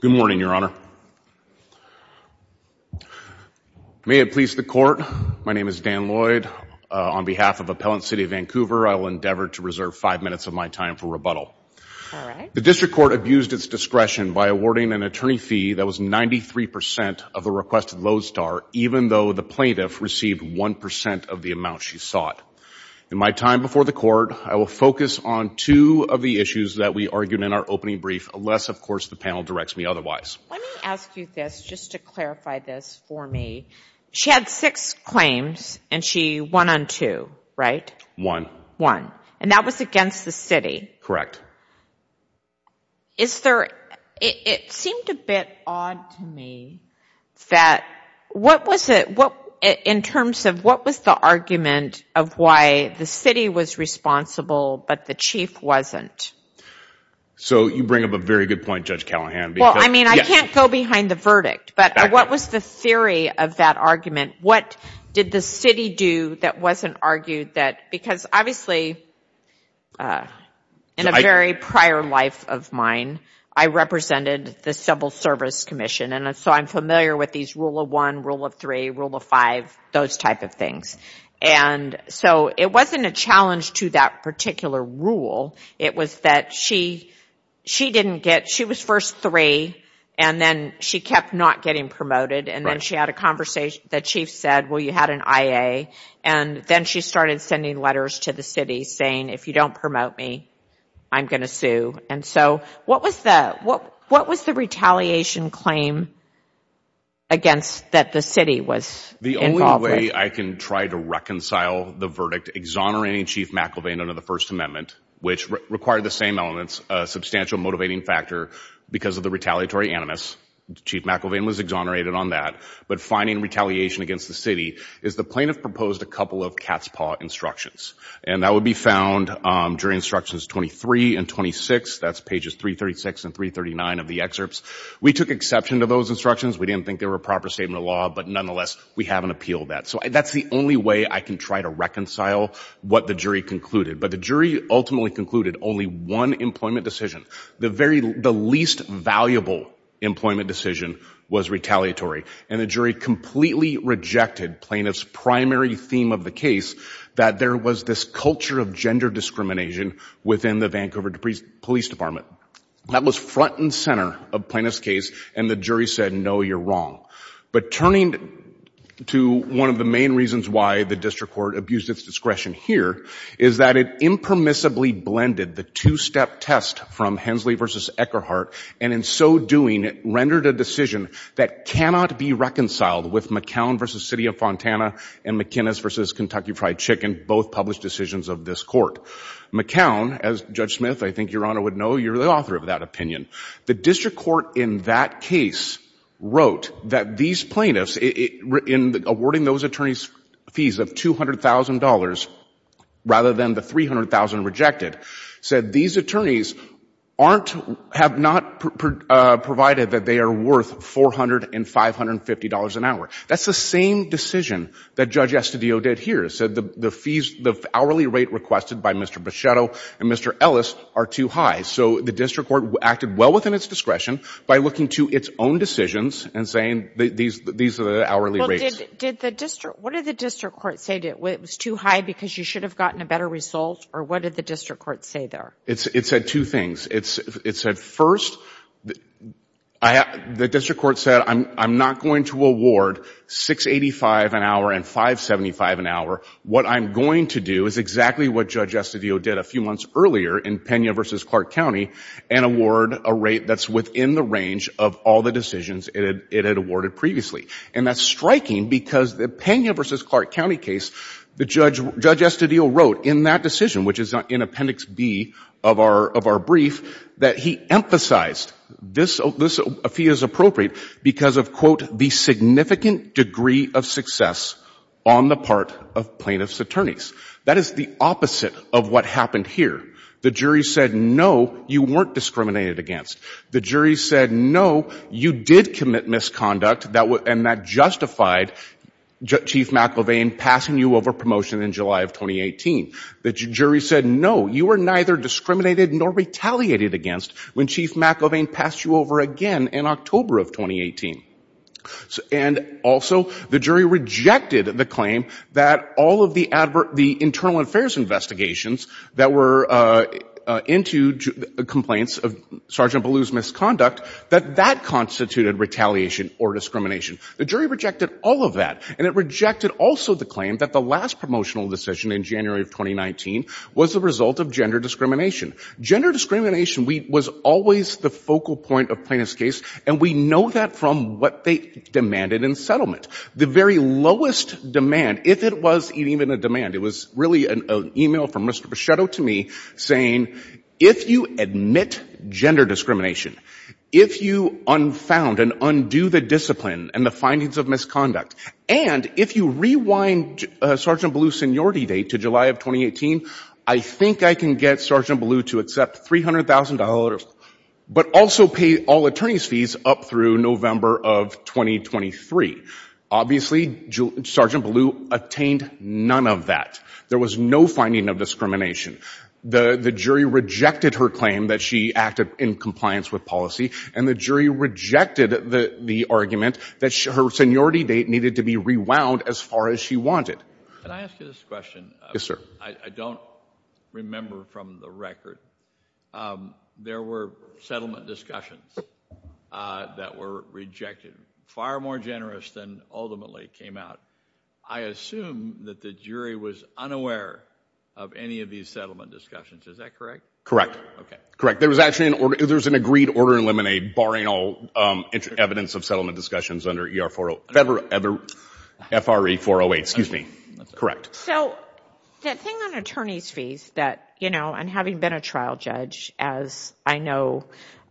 Good morning, Your Honor. May it please the court, my name is Dan Lloyd. On behalf of Appellant City of Vancouver, I will endeavor to reserve five minutes of my time for rebuttal. The district court abused its discretion by awarding an attorney fee that was 93% of the requested Lowe's star, even though the plaintiff received 1% of the amount she sought. In my time before the court, I will focus on two of the issues that we argued in our opening brief, unless of course the panel directs me otherwise. Let me ask you this, just to clarify this for me. She had six claims and she won on two, right? Won. Won. And that was against the city? Correct. Is there, it seemed a bit odd to me that, what was it, what, in terms of what was the argument of why the city was responsible but the chief wasn't? So you bring up a very good point, Judge Callahan. Well, I mean, I can't go behind the verdict, but what was the theory of that argument? What did the city do that wasn't argued that, because obviously, in a very prior life of mine, I represented the Civil Service Commission, and so I'm familiar with these rule of one, rule of three, rule of five, those type of things. And so it wasn't a challenge to that particular rule. It was that she, she didn't get, she was first three, and then she kept not getting promoted, and then she had a conversation, the chief said, well, you had an IA, and then she started sending letters to the city saying, if you don't promote me, I'm going to sue. And so what was the, what was the retaliation claim against that the city was involved with? Well, one way I can try to reconcile the verdict, exonerating Chief McElvain under the First Amendment, which required the same elements, a substantial motivating factor because of the retaliatory animus, Chief McElvain was exonerated on that, but finding retaliation against the city, is the plaintiff proposed a couple of cat's paw instructions, and that would be found during Instructions 23 and 26, that's pages 336 and 339 of the excerpts. We took exception to those instructions, we didn't think they were a proper statement of law, but nonetheless, we haven't appealed that. So that's the only way I can try to reconcile what the jury concluded. But the jury ultimately concluded only one employment decision. The very, the least valuable employment decision was retaliatory. And the jury completely rejected plaintiff's primary theme of the case, that there was this culture of gender discrimination within the Vancouver Police Department. That was front and center of plaintiff's case, and the jury said, no, you're wrong. But turning to one of the main reasons why the district court abused its discretion here, is that it impermissibly blended the two-step test from Hensley v. Eckerhart, and in so doing, rendered a decision that cannot be reconciled with McCown v. City of Fontana and McInnis v. Kentucky Fried Chicken, both published decisions of this court. McCown, as Judge Smith, I think, Your Honor, would know, you're the author of that opinion. The district court in that case wrote that these plaintiffs, in awarding those attorneys fees of $200,000 rather than the $300,000 rejected, said these attorneys aren't, have not provided that they are worth $400 and $550 an hour. That's the same decision that Judge Estadillo did here, said the fees, the hourly rate requested by Mr. Buschetto and Mr. Ellis are too high. So the district court acted well within its discretion by looking to its own decisions and saying these are the hourly rates. Well, did the district, what did the district court say? Was it too high because you should have gotten a better result, or what did the district court say there? It said two things. It said first, the district court said I'm not going to award $685 an hour and $575 an hour. What I'm going to do is exactly what Judge Estadillo did a few months earlier in Pena v. Clark County and award a rate that's within the range of all the decisions it had awarded previously. And that's striking because the Pena v. Clark County case, Judge Estadillo wrote in that decision, which is in Appendix B of our brief, that he emphasized this fee is appropriate because of, quote, the significant degree of success on the part of plaintiff's attorneys. That is the opposite of what happened here. The jury said no, you weren't discriminated against. The jury said no, you did commit misconduct and that justified Chief McElvain passing you over promotion in July of 2018. The jury said no, you were neither discriminated nor retaliated against when Chief McElvain passed you over again in October of 2018. And also, the jury rejected the claim that all of the internal affairs investigations that were into complaints of Sergeant Ballou's misconduct, that that constituted retaliation or discrimination. The jury rejected all of that and it rejected also the claim that the last promotional decision in January of 2019 was the result of gender discrimination. Gender discrimination was always the focal point of plaintiff's case and we know that from what they demanded in settlement. The very lowest demand, if it was even a demand, it was really an email from Mr. Buschetto to me saying, if you admit gender discrimination, if you unfound and undo the discipline and the findings of misconduct, and if you rewind Sergeant Ballou's seniority date to July of 2018, I think I can get Sergeant Ballou to accept $300,000 but also pay all attorney's fees up through November of 2023. Obviously, Sergeant Ballou attained none of that. There was no finding of discrimination. The jury rejected her claim that she acted in compliance with policy and the jury rejected the argument that her seniority date needed to be rewound as far as she wanted. Can I ask you this question? Yes, sir. I don't remember from the record there were settlement discussions that were rejected, far more generous than ultimately came out. I assume that the jury was unaware of any of these settlement discussions. Is that correct? Correct. Correct. There was an agreed order in Lemonade barring all evidence of settlement discussions under FRE 408. Excuse me. Correct. The thing on attorney's fees and having been a trial judge, as I know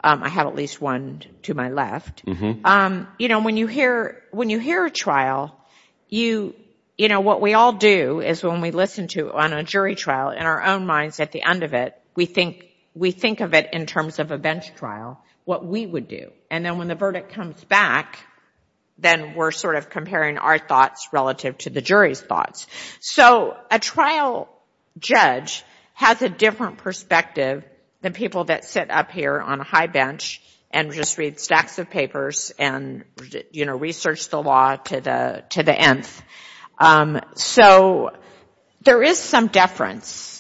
I have at least one to my left, when you hear a trial, what we all do is when we listen to it on a jury trial, in our own minds at the end of it, we think of it in terms of a bench trial, what we would do. And then when the verdict comes back, then we're sort of comparing our thoughts relative to the jury's thoughts. So a trial judge has a different perspective than people that sit up here on a high bench and just read stacks of papers and research the law to the nth. So there is some deference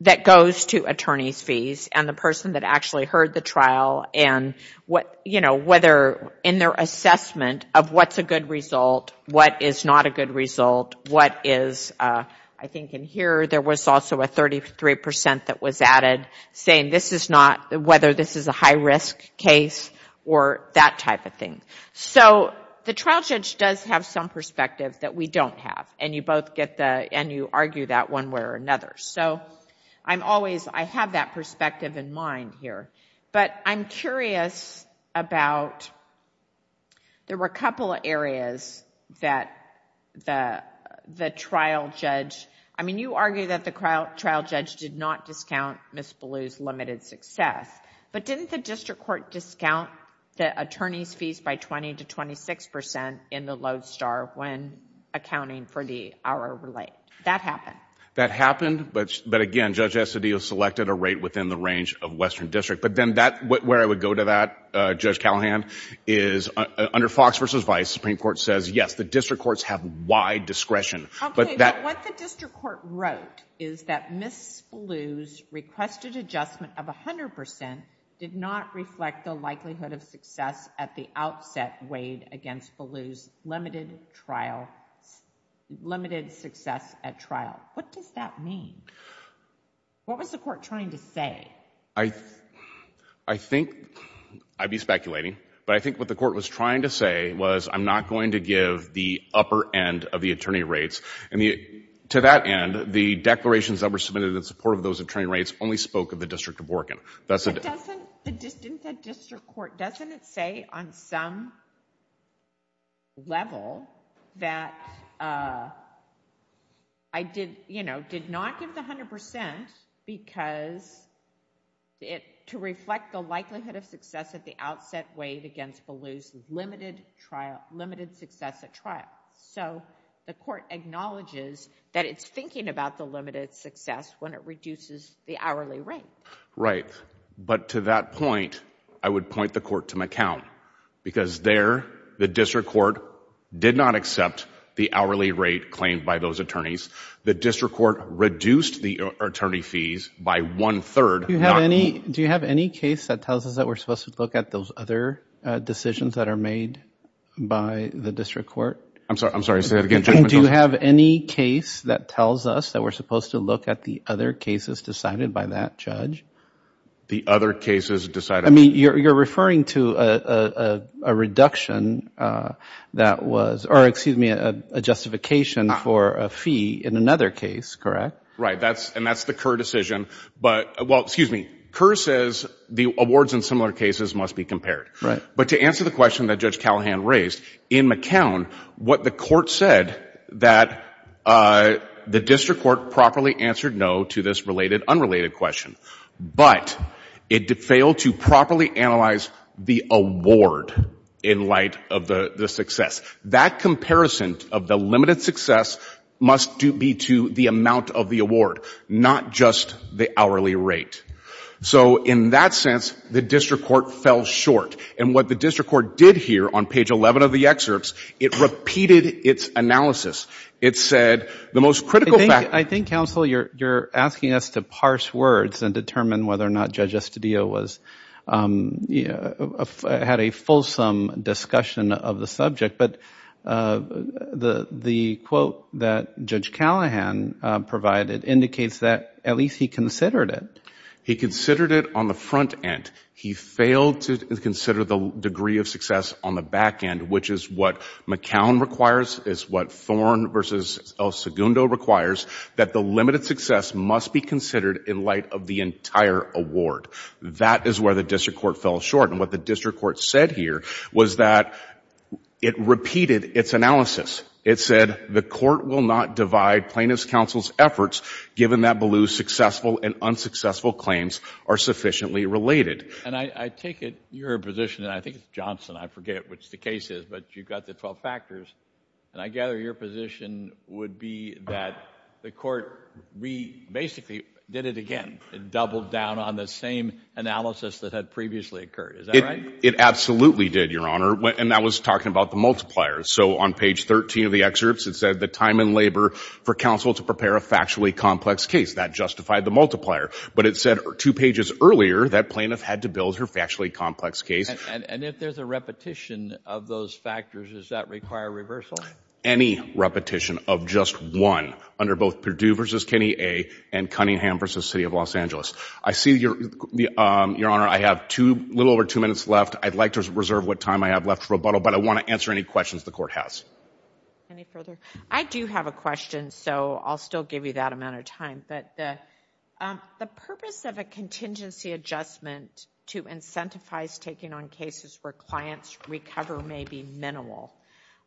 that goes to attorney's fees and the person that actually heard the trial and whether in their assessment of what's a good result, what is not a good result, what is, I think in here there was also a 33% that was added saying this is not, whether this is a high risk case or that type of thing. So the trial judge does have some perspective that we don't have and you both get the... and you argue that one way or another. So I'm always... I have that perspective in mind here, but I'm curious about... there were a couple of areas that the trial judge... I mean, you argue that the trial judge did not discount Ms. Ballou's limited success, but didn't the district court discount the attorney's fees by twenty to twenty-six percent in the Lodestar when accounting for the hourly rate? That happened? That happened, but again, Judge Estadillo selected a rate within the range of Western District, but then that... where I would go to that, Judge Callahan, is under Fox v. Vice, the Supreme Court says, yes, the district courts have wide discretion, but that... What does that mean? What was the court trying to say? The district court, you know, did not give the hundred percent because it... to reflect the likelihood of success at the outset weighed against Ballou's limited success at trial. So the court acknowledges that it's thinking about the limited success when it reduces the hourly rate. Right, but to that point, I would point the court to McCown because there, the district court did not accept the hourly rate claimed by those attorneys. The district court reduced the attorney fees by one-third... Do you have any case that tells us that we're supposed to look at those other decisions that are made by the district court? I'm sorry, say that again, Judge McCown. Do you have any case that tells us that we're supposed to look at the other cases decided by that judge? The other cases decided... I mean, you're referring to a reduction that was... or excuse me, a justification for a fee in another case, correct? Right, and that's the Kerr decision. But, well, excuse me, Kerr says the awards in similar cases must be compared. Right. But to answer the question that Judge Callahan raised, in McCown, what the court said that the district court properly answered no to this related, unrelated question. But it failed to properly analyze the award in light of the success. That comparison of the limited success must be to the amount of the award, not just the hourly rate. So in that sense, the district court fell short. And what the district court did here on page 11 of the excerpts, it repeated its analysis. It said the most critical... whether or not Judge Estudillo had a fulsome discussion of the subject. But the quote that Judge Callahan provided indicates that at least he considered it. He considered it on the front end. He failed to consider the degree of success on the back end, which is what McCown requires, is what Thorn v. El Segundo requires, that the limited success must be considered in light of the entire award. That is where the district court fell short. And what the district court said here was that it repeated its analysis. It said the court will not divide plaintiff's counsel's efforts, given that Ballou's successful and unsuccessful claims are sufficiently related. And I take it your position, and I think it's Johnson, I forget which the case is, but you've got the 12 factors. And I gather your position would be that the court basically did it again. It doubled down on the same analysis that had previously occurred. Is that right? It absolutely did, Your Honor. And that was talking about the multiplier. So on page 13 of the excerpts, it said the time and labor for counsel to prepare a factually complex case. That justified the multiplier. But it said two pages earlier that plaintiff had to build her factually complex case. And if there's a repetition of those factors, does that require reversal? Any repetition of just one under both Perdue v. Kenny A. and Cunningham v. City of Los Angeles. I see, Your Honor, I have a little over two minutes left. I'd like to reserve what time I have left for rebuttal, but I want to answer any questions the court has. Any further? I do have a question, so I'll still give you that amount of time. The purpose of a contingency adjustment to incentivize taking on cases where clients recover may be minimal.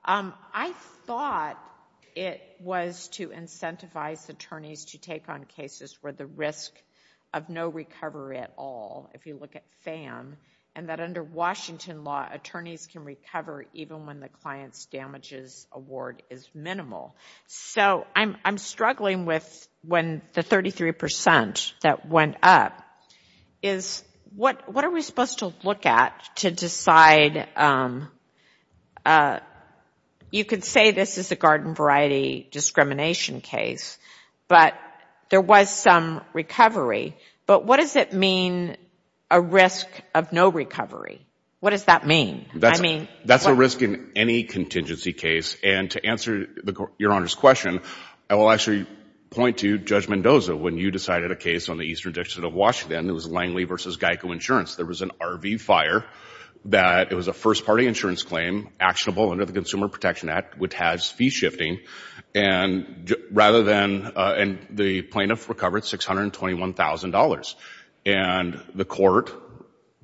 I thought it was to incentivize attorneys to take on cases where the risk of no recovery at all, if you look at FAM, and that under Washington law, attorneys can recover even when the client's damages award is minimal. So I'm struggling with the 33% that went up. What are we supposed to look at to decide? You could say this is a garden variety discrimination case, but there was some recovery. But what does it mean, a risk of no recovery? What does that mean? That's a risk in any contingency case. And to answer Your Honor's question, I will actually point to Judge Mendoza. When you decided a case on the Eastern District of Washington, it was Langley v. Geico Insurance. There was an RV fire that it was a first-party insurance claim actionable under the Consumer Protection Act, which has fee shifting, and the plaintiff recovered $621,000. And the court,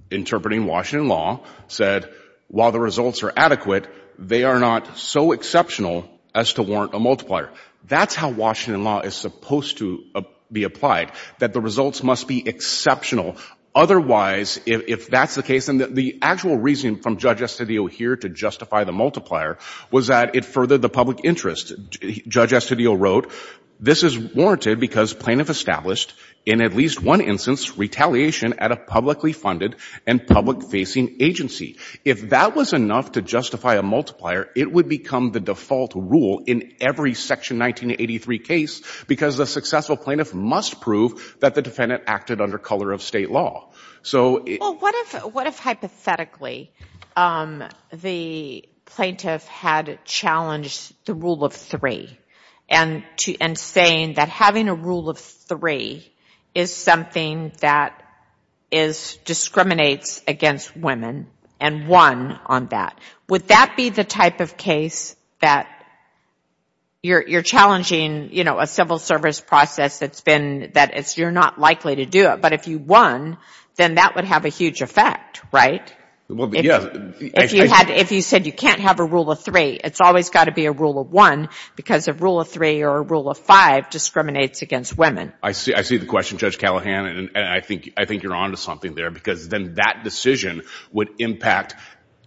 interpreting Washington law, said while the results are adequate, they are not so exceptional as to warrant a multiplier. That's how Washington law is supposed to be applied, that the results must be exceptional. Otherwise, if that's the case, and the actual reasoning from Judge Estudillo here to justify the multiplier was that it furthered the public interest. Judge Estudillo wrote, this is warranted because plaintiff established, in at least one instance, retaliation at a publicly funded and public-facing agency. If that was enough to justify a multiplier, it would become the default rule in every Section 1983 case because the successful plaintiff must prove that the defendant acted under color of state law. Well, what if hypothetically the plaintiff had challenged the rule of three, and saying that having a rule of three is something that discriminates against women, and won on that. Would that be the type of case that you're challenging a civil service process that you're not likely to do it, but if you won, then that would have a huge effect, right? If you said you can't have a rule of three, it's always got to be a rule of one because a rule of three or a rule of five discriminates against women. I see the question, Judge Callahan, and I think you're on to something there because then that decision would impact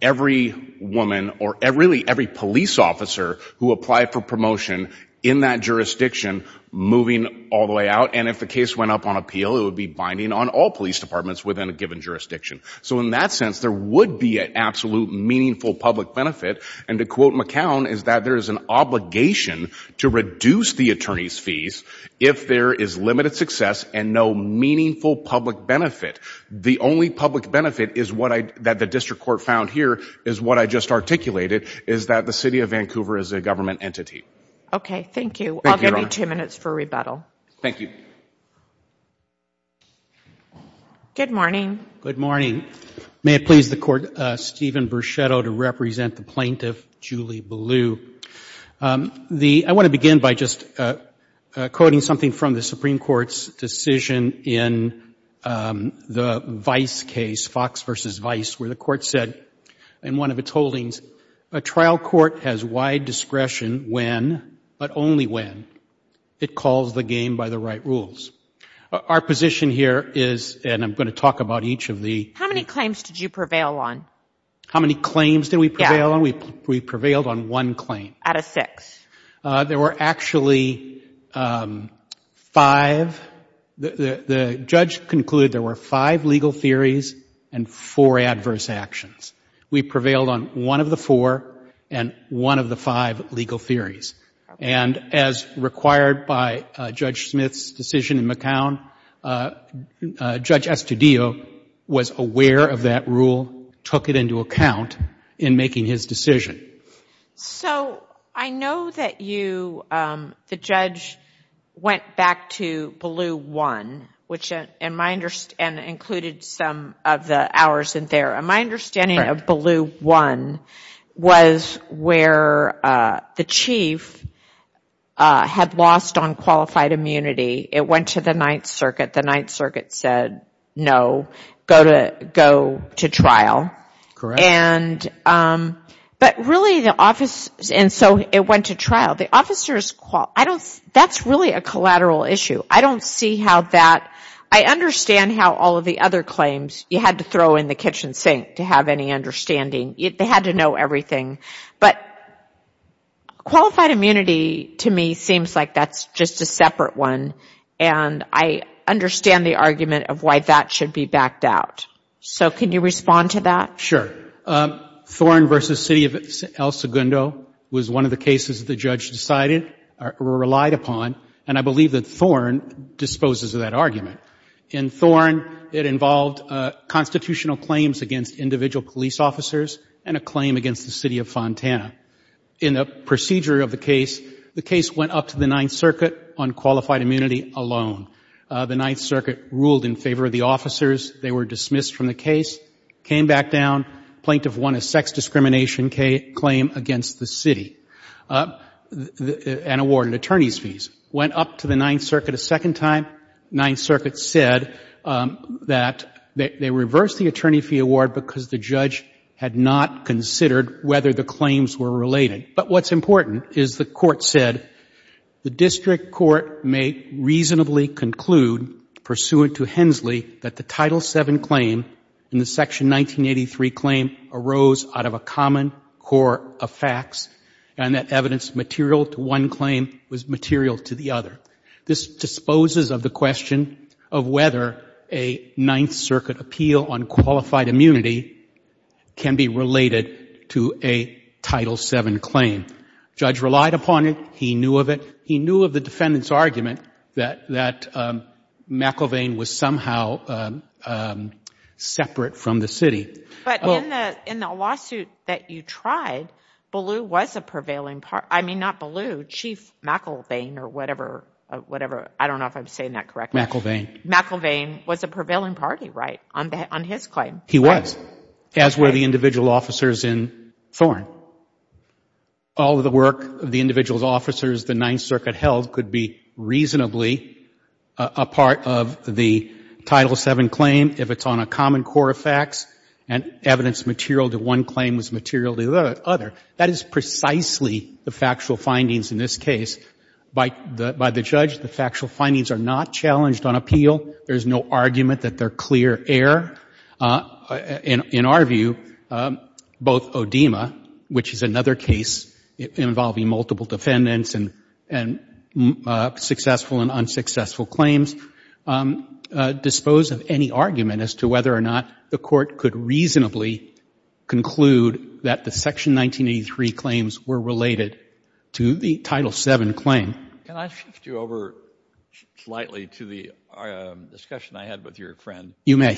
every woman, or really every police officer who applied for promotion in that jurisdiction, moving all the way out. And if the case went up on appeal, it would be binding on all police departments within a given jurisdiction. So in that sense, there would be an absolute meaningful public benefit, and to quote McCown is that there is an obligation to reduce the attorney's fees if there is limited success and no meaningful public benefit. The only public benefit that the District Court found here is what I just articulated, is that the City of Vancouver is a government entity. Okay, thank you. I'll give you two minutes for rebuttal. Thank you. Good morning. Good morning. May it please the Court, Stephen Bruchetto to represent the plaintiff, Julie Ballew. I want to begin by just quoting something from the Supreme Court's decision in the Vice case, Fox v. Vice, where the Court said in one of its holdings, a trial court has wide discretion when, but only when, it calls the game by the right rules. Our position here is, and I'm going to talk about each of the How many claims did you prevail on? How many claims did we prevail on? We prevailed on one claim. Out of six. There were actually five. The judge concluded there were five legal theories and four adverse actions. We prevailed on one of the four and one of the five legal theories. As required by Judge Smith's decision in McCown, Judge Estudillo was aware of that rule, took it into account in making his decision. I know that the judge went back to Ballew 1, which included some of the hours in there. My understanding of Ballew 1 was where the chief had lost on qualified immunity. It went to the Ninth Circuit. The Ninth Circuit said, no, go to trial. Correct. And so it went to trial. That's really a collateral issue. I understand how all of the other claims you had to throw in the kitchen sink to have any understanding. They had to know everything. But qualified immunity, to me, seems like that's just a separate one, and I understand the argument of why that should be backed out. So can you respond to that? Sure. Thorne v. City of El Segundo was one of the cases the judge decided or relied upon, and I believe that Thorne disposes of that argument. In Thorne, it involved constitutional claims against individual police officers and a claim against the City of Fontana. In the procedure of the case, the case went up to the Ninth Circuit on qualified immunity alone. The Ninth Circuit ruled in favor of the officers. They were dismissed from the case, came back down, plaintiff won a sex discrimination claim against the city and awarded attorney's fees. Went up to the Ninth Circuit a second time. Ninth Circuit said that they reversed the attorney fee award because the judge had not considered whether the claims were related. But what's important is the Court said, the district court may reasonably conclude, pursuant to Hensley, that the Title VII claim in the Section 1983 claim arose out of a common core of facts and that evidence material to one claim was material to the other. This disposes of the question of whether a Ninth Circuit appeal on qualified immunity can be related to a Title VII claim. The judge relied upon it. He knew of it. He knew of the defendant's argument that McIlvain was somehow separate from the city. But in the lawsuit that you tried, Ballou was a prevailing party. I mean, not Ballou, Chief McIlvain or whatever, I don't know if I'm saying that correctly. McIlvain. McIlvain was a prevailing party, right, on his claim. He was, as were the individual officers in Thorne. All of the work of the individual officers the Ninth Circuit held could be reasonably a part of the Title VII claim if it's on a common core of facts and evidence material to one claim was material to the other. That is precisely the factual findings in this case. By the judge, the factual findings are not challenged on appeal. There's no argument that they're clear error. In our view, both ODIMA, which is another case involving multiple defendants and successful and unsuccessful claims, dispose of any argument as to whether or not the court could reasonably conclude that the Section 1983 claims were related to the Title VII claim. Can I shift you over slightly to the discussion I had with your friend? You may.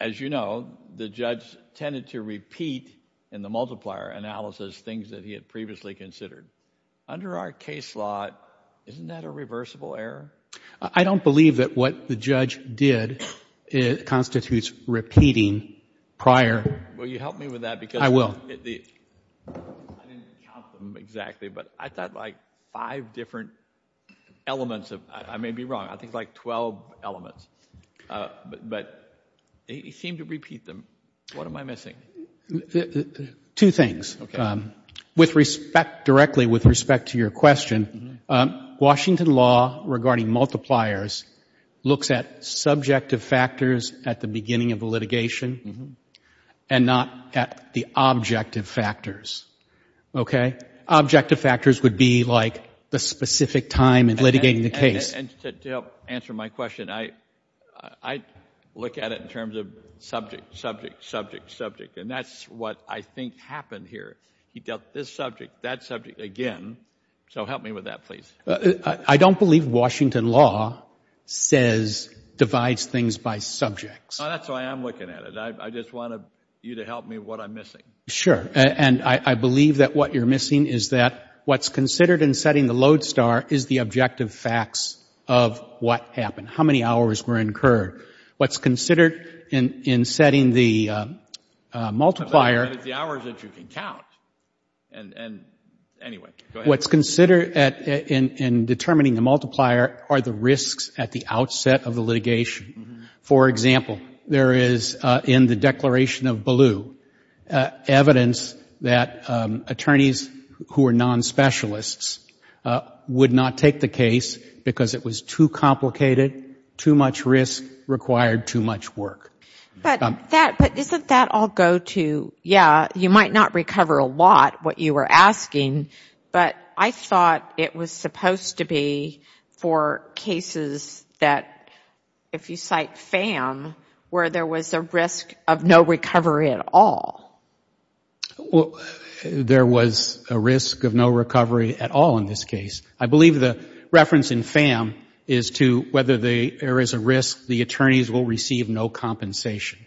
As you know, the judge tended to repeat in the multiplier analysis things that he had previously considered. Under our case law, isn't that a reversible error? I don't believe that what the judge did constitutes repeating prior... Will you help me with that because... I didn't count them exactly, but I thought like five different elements of... But he seemed to repeat them. What am I missing? Two things. Okay. With respect, directly with respect to your question, Washington law regarding multipliers looks at subjective factors at the beginning of the litigation and not at the objective factors. Okay? Objective factors would be like the specific time in litigating the case. And to help answer my question, I look at it in terms of subject, subject, subject, subject. And that's what I think happened here. He dealt this subject, that subject again. So help me with that, please. I don't believe Washington law says divides things by subjects. That's why I'm looking at it. I just want you to help me with what I'm missing. Sure. And I believe that what you're missing is that what's considered in setting the load star is the objective facts of what happened, how many hours were incurred. What's considered in setting the multiplier... But it's the hours that you can count. And anyway, go ahead. What's considered in determining the multiplier are the risks at the outset of the litigation. For example, there is in the Declaration of Ballou evidence that attorneys who are non-specialists would not take the case because it was too complicated, too much risk, required too much work. But isn't that all go to, yeah, you might not recover a lot, what you were asking, but I thought it was supposed to be for cases that, if you cite FAM, where there was a risk of no recovery at all. Well, there was a risk of no recovery at all in this case. I believe the reference in FAM is to whether there is a risk the attorneys will receive no compensation.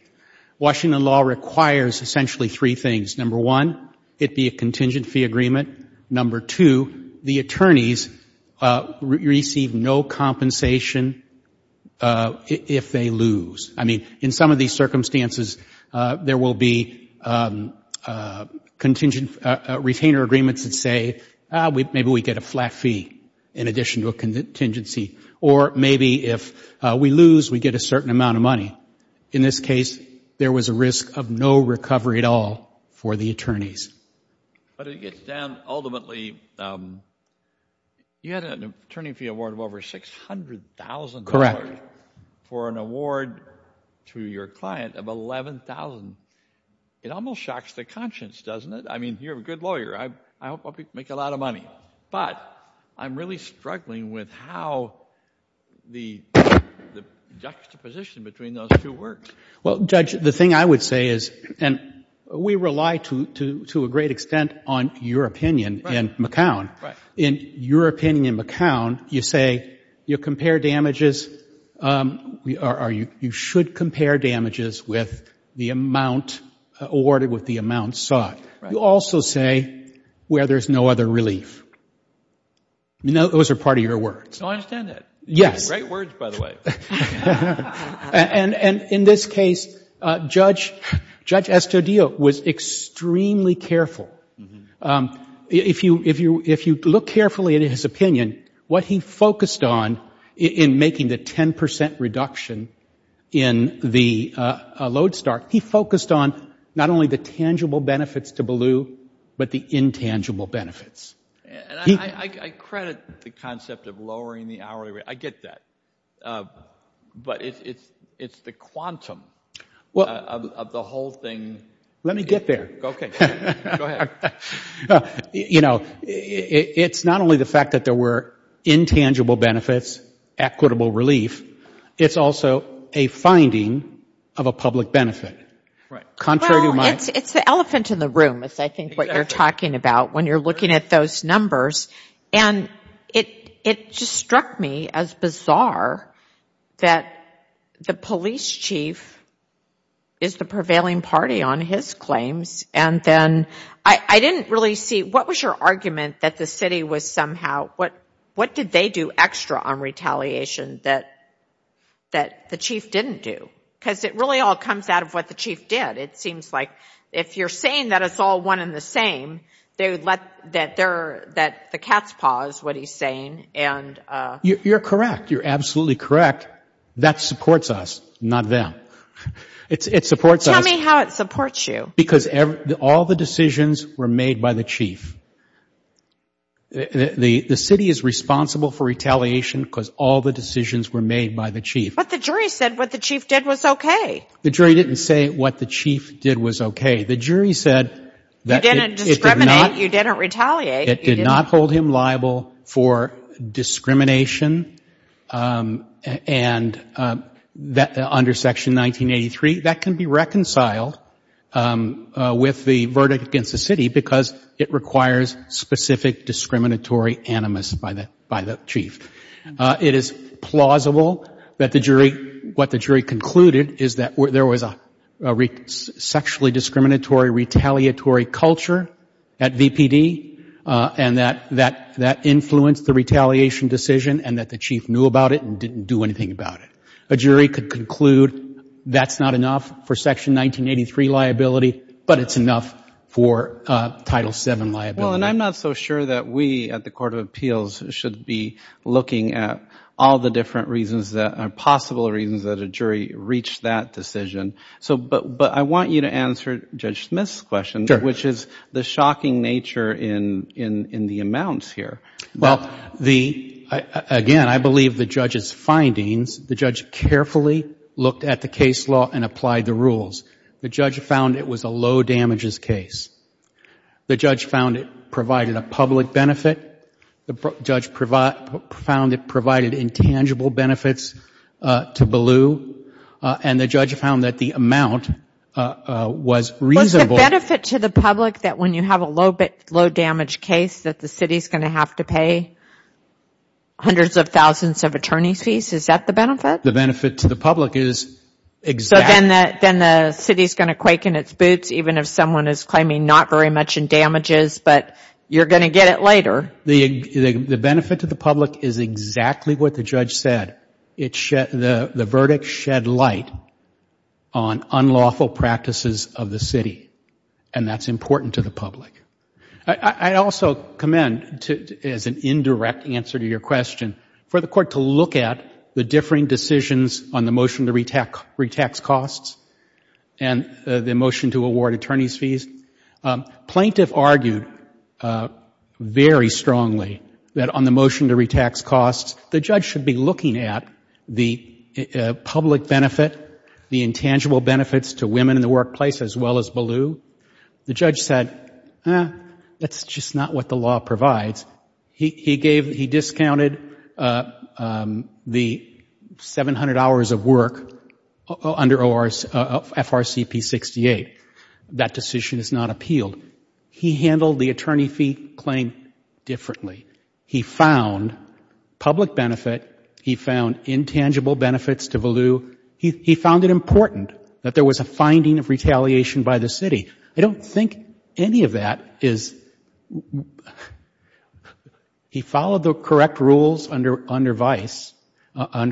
Washington law requires essentially three things. Number one, it be a contingent fee agreement. Number two, the attorneys receive no compensation if they lose. I mean, in some of these circumstances, there will be retainer agreements that say, maybe we get a flat fee in addition to a contingency. Or maybe if we lose, we get a certain amount of money. In this case, there was a risk of no recovery at all for the attorneys. But it gets down ultimately, you had an attorney fee award of over $600,000. For an award to your client of $11,000. It almost shocks the conscience, doesn't it? I mean, you're a good lawyer. I hope you make a lot of money. But I'm really struggling with how the juxtaposition between those two works. Well, Judge, the thing I would say is, and we rely to a great extent on your opinion in McCown. In your opinion in McCown, you say you compare damages, or you should compare damages with the amount awarded with the amount sought. You also say where there's no other relief. I mean, those are part of your words. No, I understand that. Yes. Great words, by the way. And in this case, Judge Estudillo was extremely careful. If you look carefully at his opinion, what he focused on in making the 10 percent reduction in the load start, he focused on not only the tangible benefits to Ballou, but the intangible benefits. And I credit the concept of lowering the hourly rate. I get that. But it's the quantum of the whole thing. Let me get there. Okay. Go ahead. You know, it's not only the fact that there were intangible benefits, equitable relief. It's also a finding of a public benefit. Well, it's the elephant in the room, is I think what you're talking about, when you're looking at those numbers. And it just struck me as bizarre that the police chief is the prevailing party on his claims. And then I didn't really see what was your argument that the city was somehow, what did they do extra on retaliation that the chief didn't do? Because it really all comes out of what the chief did. It seems like if you're saying that it's all one and the same, that the cat's paw is what he's saying. You're correct. You're absolutely correct. That supports us, not them. It supports us. Tell me how it supports you. Because all the decisions were made by the chief. The city is responsible for retaliation because all the decisions were made by the chief. But the jury said what the chief did was okay. The jury didn't say what the chief did was okay. The jury said that it did not. You didn't discriminate. You didn't retaliate. It did not hold him liable for discrimination. And under Section 1983, that can be reconciled with the verdict against the city because it requires specific discriminatory animus by the chief. It is plausible that the jury, what the jury concluded, is that there was a sexually discriminatory retaliatory culture at VPD and that that influenced the retaliation decision and that the chief knew about it and didn't do anything about it. A jury could conclude that's not enough for Section 1983 liability, but it's enough for Title VII liability. Well, and I'm not so sure that we at the Court of Appeals should be looking at all the different reasons, possible reasons that a jury reached that decision. But I want you to answer Judge Smith's question, which is the shocking nature in the amounts here. Well, again, I believe the judge's findings, the judge carefully looked at the case law and applied the rules. The judge found it was a low-damages case. The judge found it provided a public benefit. The judge found it provided intangible benefits to Ballew. And the judge found that the amount was reasonable. Was the benefit to the public that when you have a low-damage case that the city is going to have to pay hundreds of thousands of attorney fees? Is that the benefit? The benefit to the public is exact. So then the city is going to quake in its boots, even if someone is claiming not very much in damages, but you're going to get it later. The benefit to the public is exactly what the judge said. The verdict shed light on unlawful practices of the city, and that's important to the public. I also commend, as an indirect answer to your question, for the Court to look at the differing decisions on the motion to retax costs and the motion to award attorney's fees. Plaintiff argued very strongly that on the motion to retax costs, the judge should be looking at the public benefit, the intangible benefits to women in the workplace as well as Ballew. The judge said, eh, that's just not what the law provides. He discounted the 700 hours of work under FRCP 68. That decision is not appealed. He handled the attorney fee claim differently. He found public benefit, he found intangible benefits to Ballew, he found it important that there was a finding of retaliation by the city. I don't think any of that is... He followed the correct rules under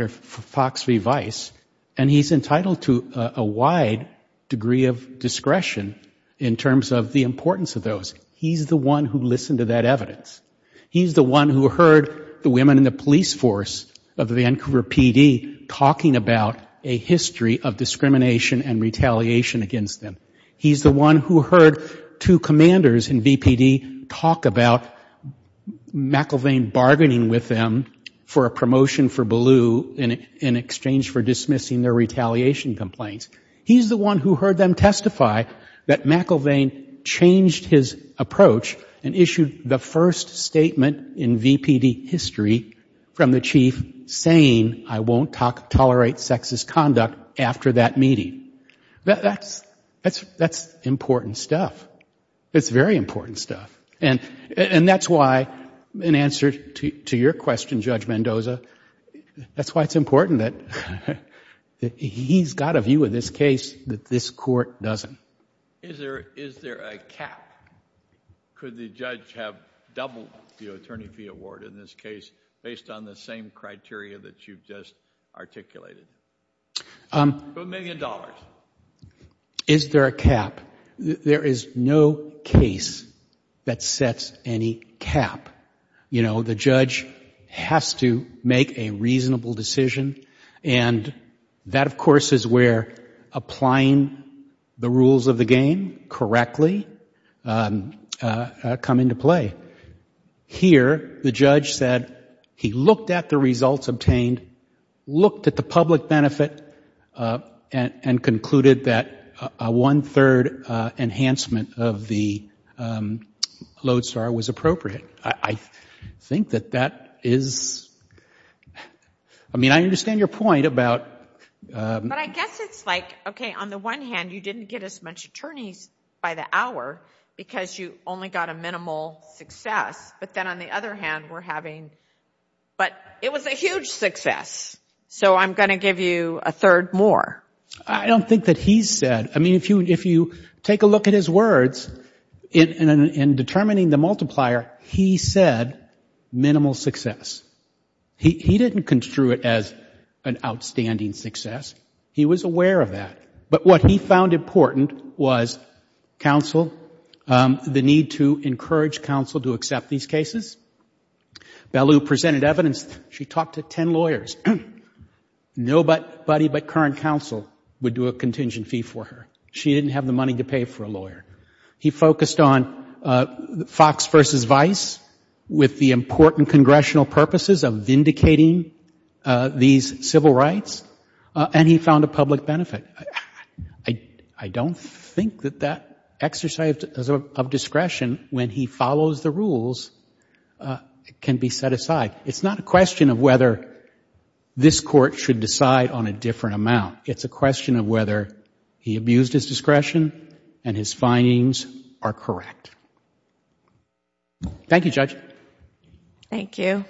Fox v. Vice, and he's entitled to a wide degree of discretion in terms of the importance of those. He's the one who listened to that evidence. He's the one who heard the women in the police force of the Vancouver PD talking about a history of discrimination and retaliation against them. He's the one who heard two commanders in VPD talk about McIlvain bargaining with them for a promotion for Ballew in exchange for dismissing their retaliation complaints. He's the one who heard them testify that McIlvain changed his approach and issued the first statement in VPD history from the chief saying, I won't tolerate sexist conduct after that meeting. That's important stuff. It's very important stuff. And that's why, in answer to your question, Judge Mendoza, that's why it's important that he's got a view of this case that this court doesn't. Is there a cap? Could the judge have doubled the attorney fee award in this case based on the same criteria that you've just articulated? A million dollars. Is there a cap? There is no case that sets any cap. You know, the judge has to make a reasonable decision, and that, of course, is where applying the rules of the game correctly come into play. Here, the judge said he looked at the results obtained, looked at the public benefit, and concluded that a one-third enhancement of the Lodestar was appropriate. I think that that is – I mean, I understand your point about – But I guess it's like, okay, on the one hand, you didn't get as much attorneys by the hour because you only got a minimal success, but then on the other hand, we're having – But it was a huge success, so I'm going to give you a third more. I don't think that he said – I mean, if you take a look at his words, in determining the multiplier, he said minimal success. He didn't construe it as an outstanding success. He was aware of that. But what he found important was counsel, the need to encourage counsel to accept these cases. Bellew presented evidence. She talked to ten lawyers. Nobody but current counsel would do a contingent fee for her. She didn't have the money to pay for a lawyer. He focused on Fox versus Vice with the important congressional purposes of vindicating these civil rights, and he found a public benefit. I don't think that that exercise of discretion, when he follows the rules, can be set aside. It's not a question of whether this court should decide on a different amount. It's a question of whether he abused his discretion and his findings are correct. Thank you, Judge. Thank you.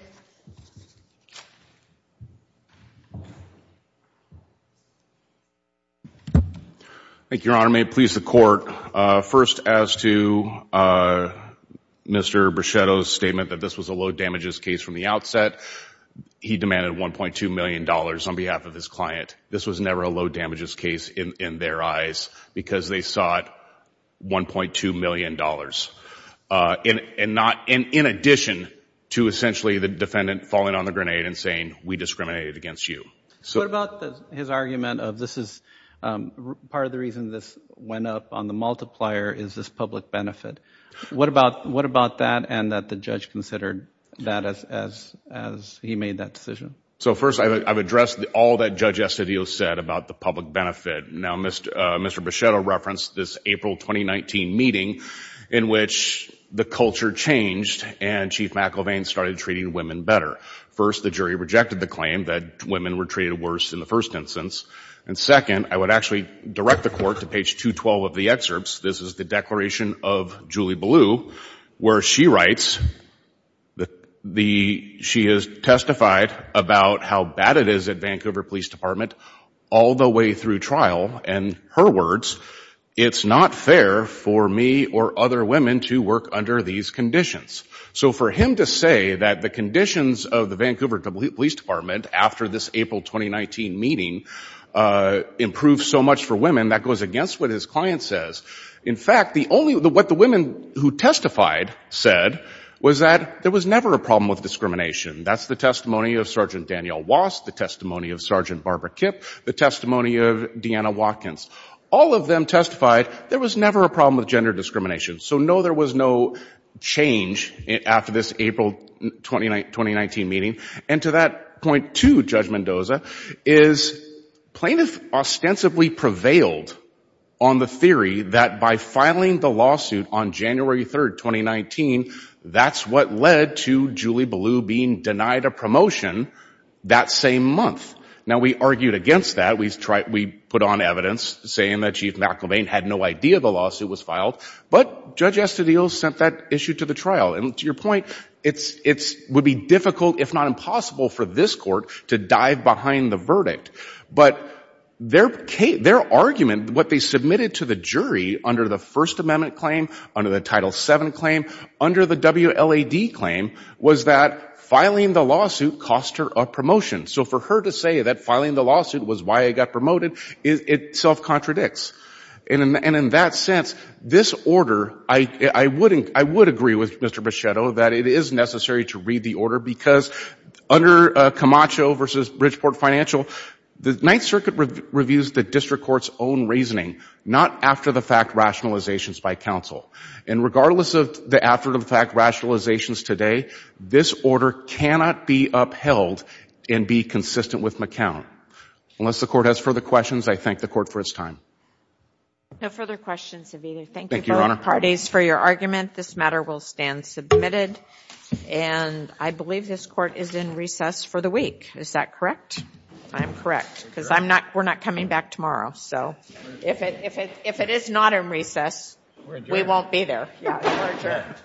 Thank you, Your Honor. May it please the Court. First, as to Mr. Brichetto's statement that this was a low-damages case from the outset, he demanded $1.2 million on behalf of his client. This was never a low-damages case in their eyes because they sought $1.2 million, in addition to essentially the defendant falling on the grenade and saying, we discriminated against you. What about his argument of this is part of the reason this went up on the multiplier is this public benefit? What about that and that the judge considered that as he made that decision? First, I've addressed all that Judge Estivio said about the public benefit. Now, Mr. Brichetto referenced this April 2019 meeting in which the culture changed and Chief McElvain started treating women better. First, the jury rejected the claim that women were treated worse in the first instance, and second, I would actually direct the Court to page 212 of the excerpts. This is the declaration of Julie Ballew, where she writes that she has testified about how bad it is at Vancouver Police Department all the way through trial, and her words, it's not fair for me or other women to work under these conditions. So for him to say that the conditions of the Vancouver Police Department after this April 2019 meeting improved so much for women, that goes against what his client says. In fact, what the women who testified said was that there was never a problem with discrimination. That's the testimony of Sergeant Danielle Wass, the testimony of Sergeant Barbara Kipp, the testimony of Deanna Watkins. All of them testified there was never a problem with gender discrimination. So no, there was no change after this April 2019 meeting. And to that point, too, Judge Mendoza, is plaintiffs ostensibly prevailed on the theory that by filing the lawsuit on January 3, 2019, that's what led to Julie Ballew being denied a promotion that same month. Now, we argued against that. We put on evidence saying that Chief McElvain had no idea the lawsuit was filed, but Judge Estadillo sent that issue to the trial. And to your point, it would be difficult, if not impossible, for this Court to dive behind the verdict. But their argument, what they submitted to the jury under the First Amendment claim, under the Title VII claim, under the WLAD claim, was that filing the lawsuit cost her a promotion. So for her to say that filing the lawsuit was why I got promoted, it self-contradicts. And in that sense, this order, I would agree with Mr. Bichetto that it is necessary to read the order, because under Camacho v. Bridgeport Financial, the Ninth Circuit reviews the district court's own reasoning, not after-the-fact rationalizations by counsel. And regardless of the after-the-fact rationalizations today, this order cannot be upheld and be consistent with McCown. Unless the Court has further questions, I thank the Court for its time. No further questions, Aviva. Thank you both parties for your argument. This matter will stand submitted. And I believe this Court is in recess for the week. Is that correct? I'm correct, because we're not coming back tomorrow. So if it is not in recess, we won't be there. We're adjourned. Thank you.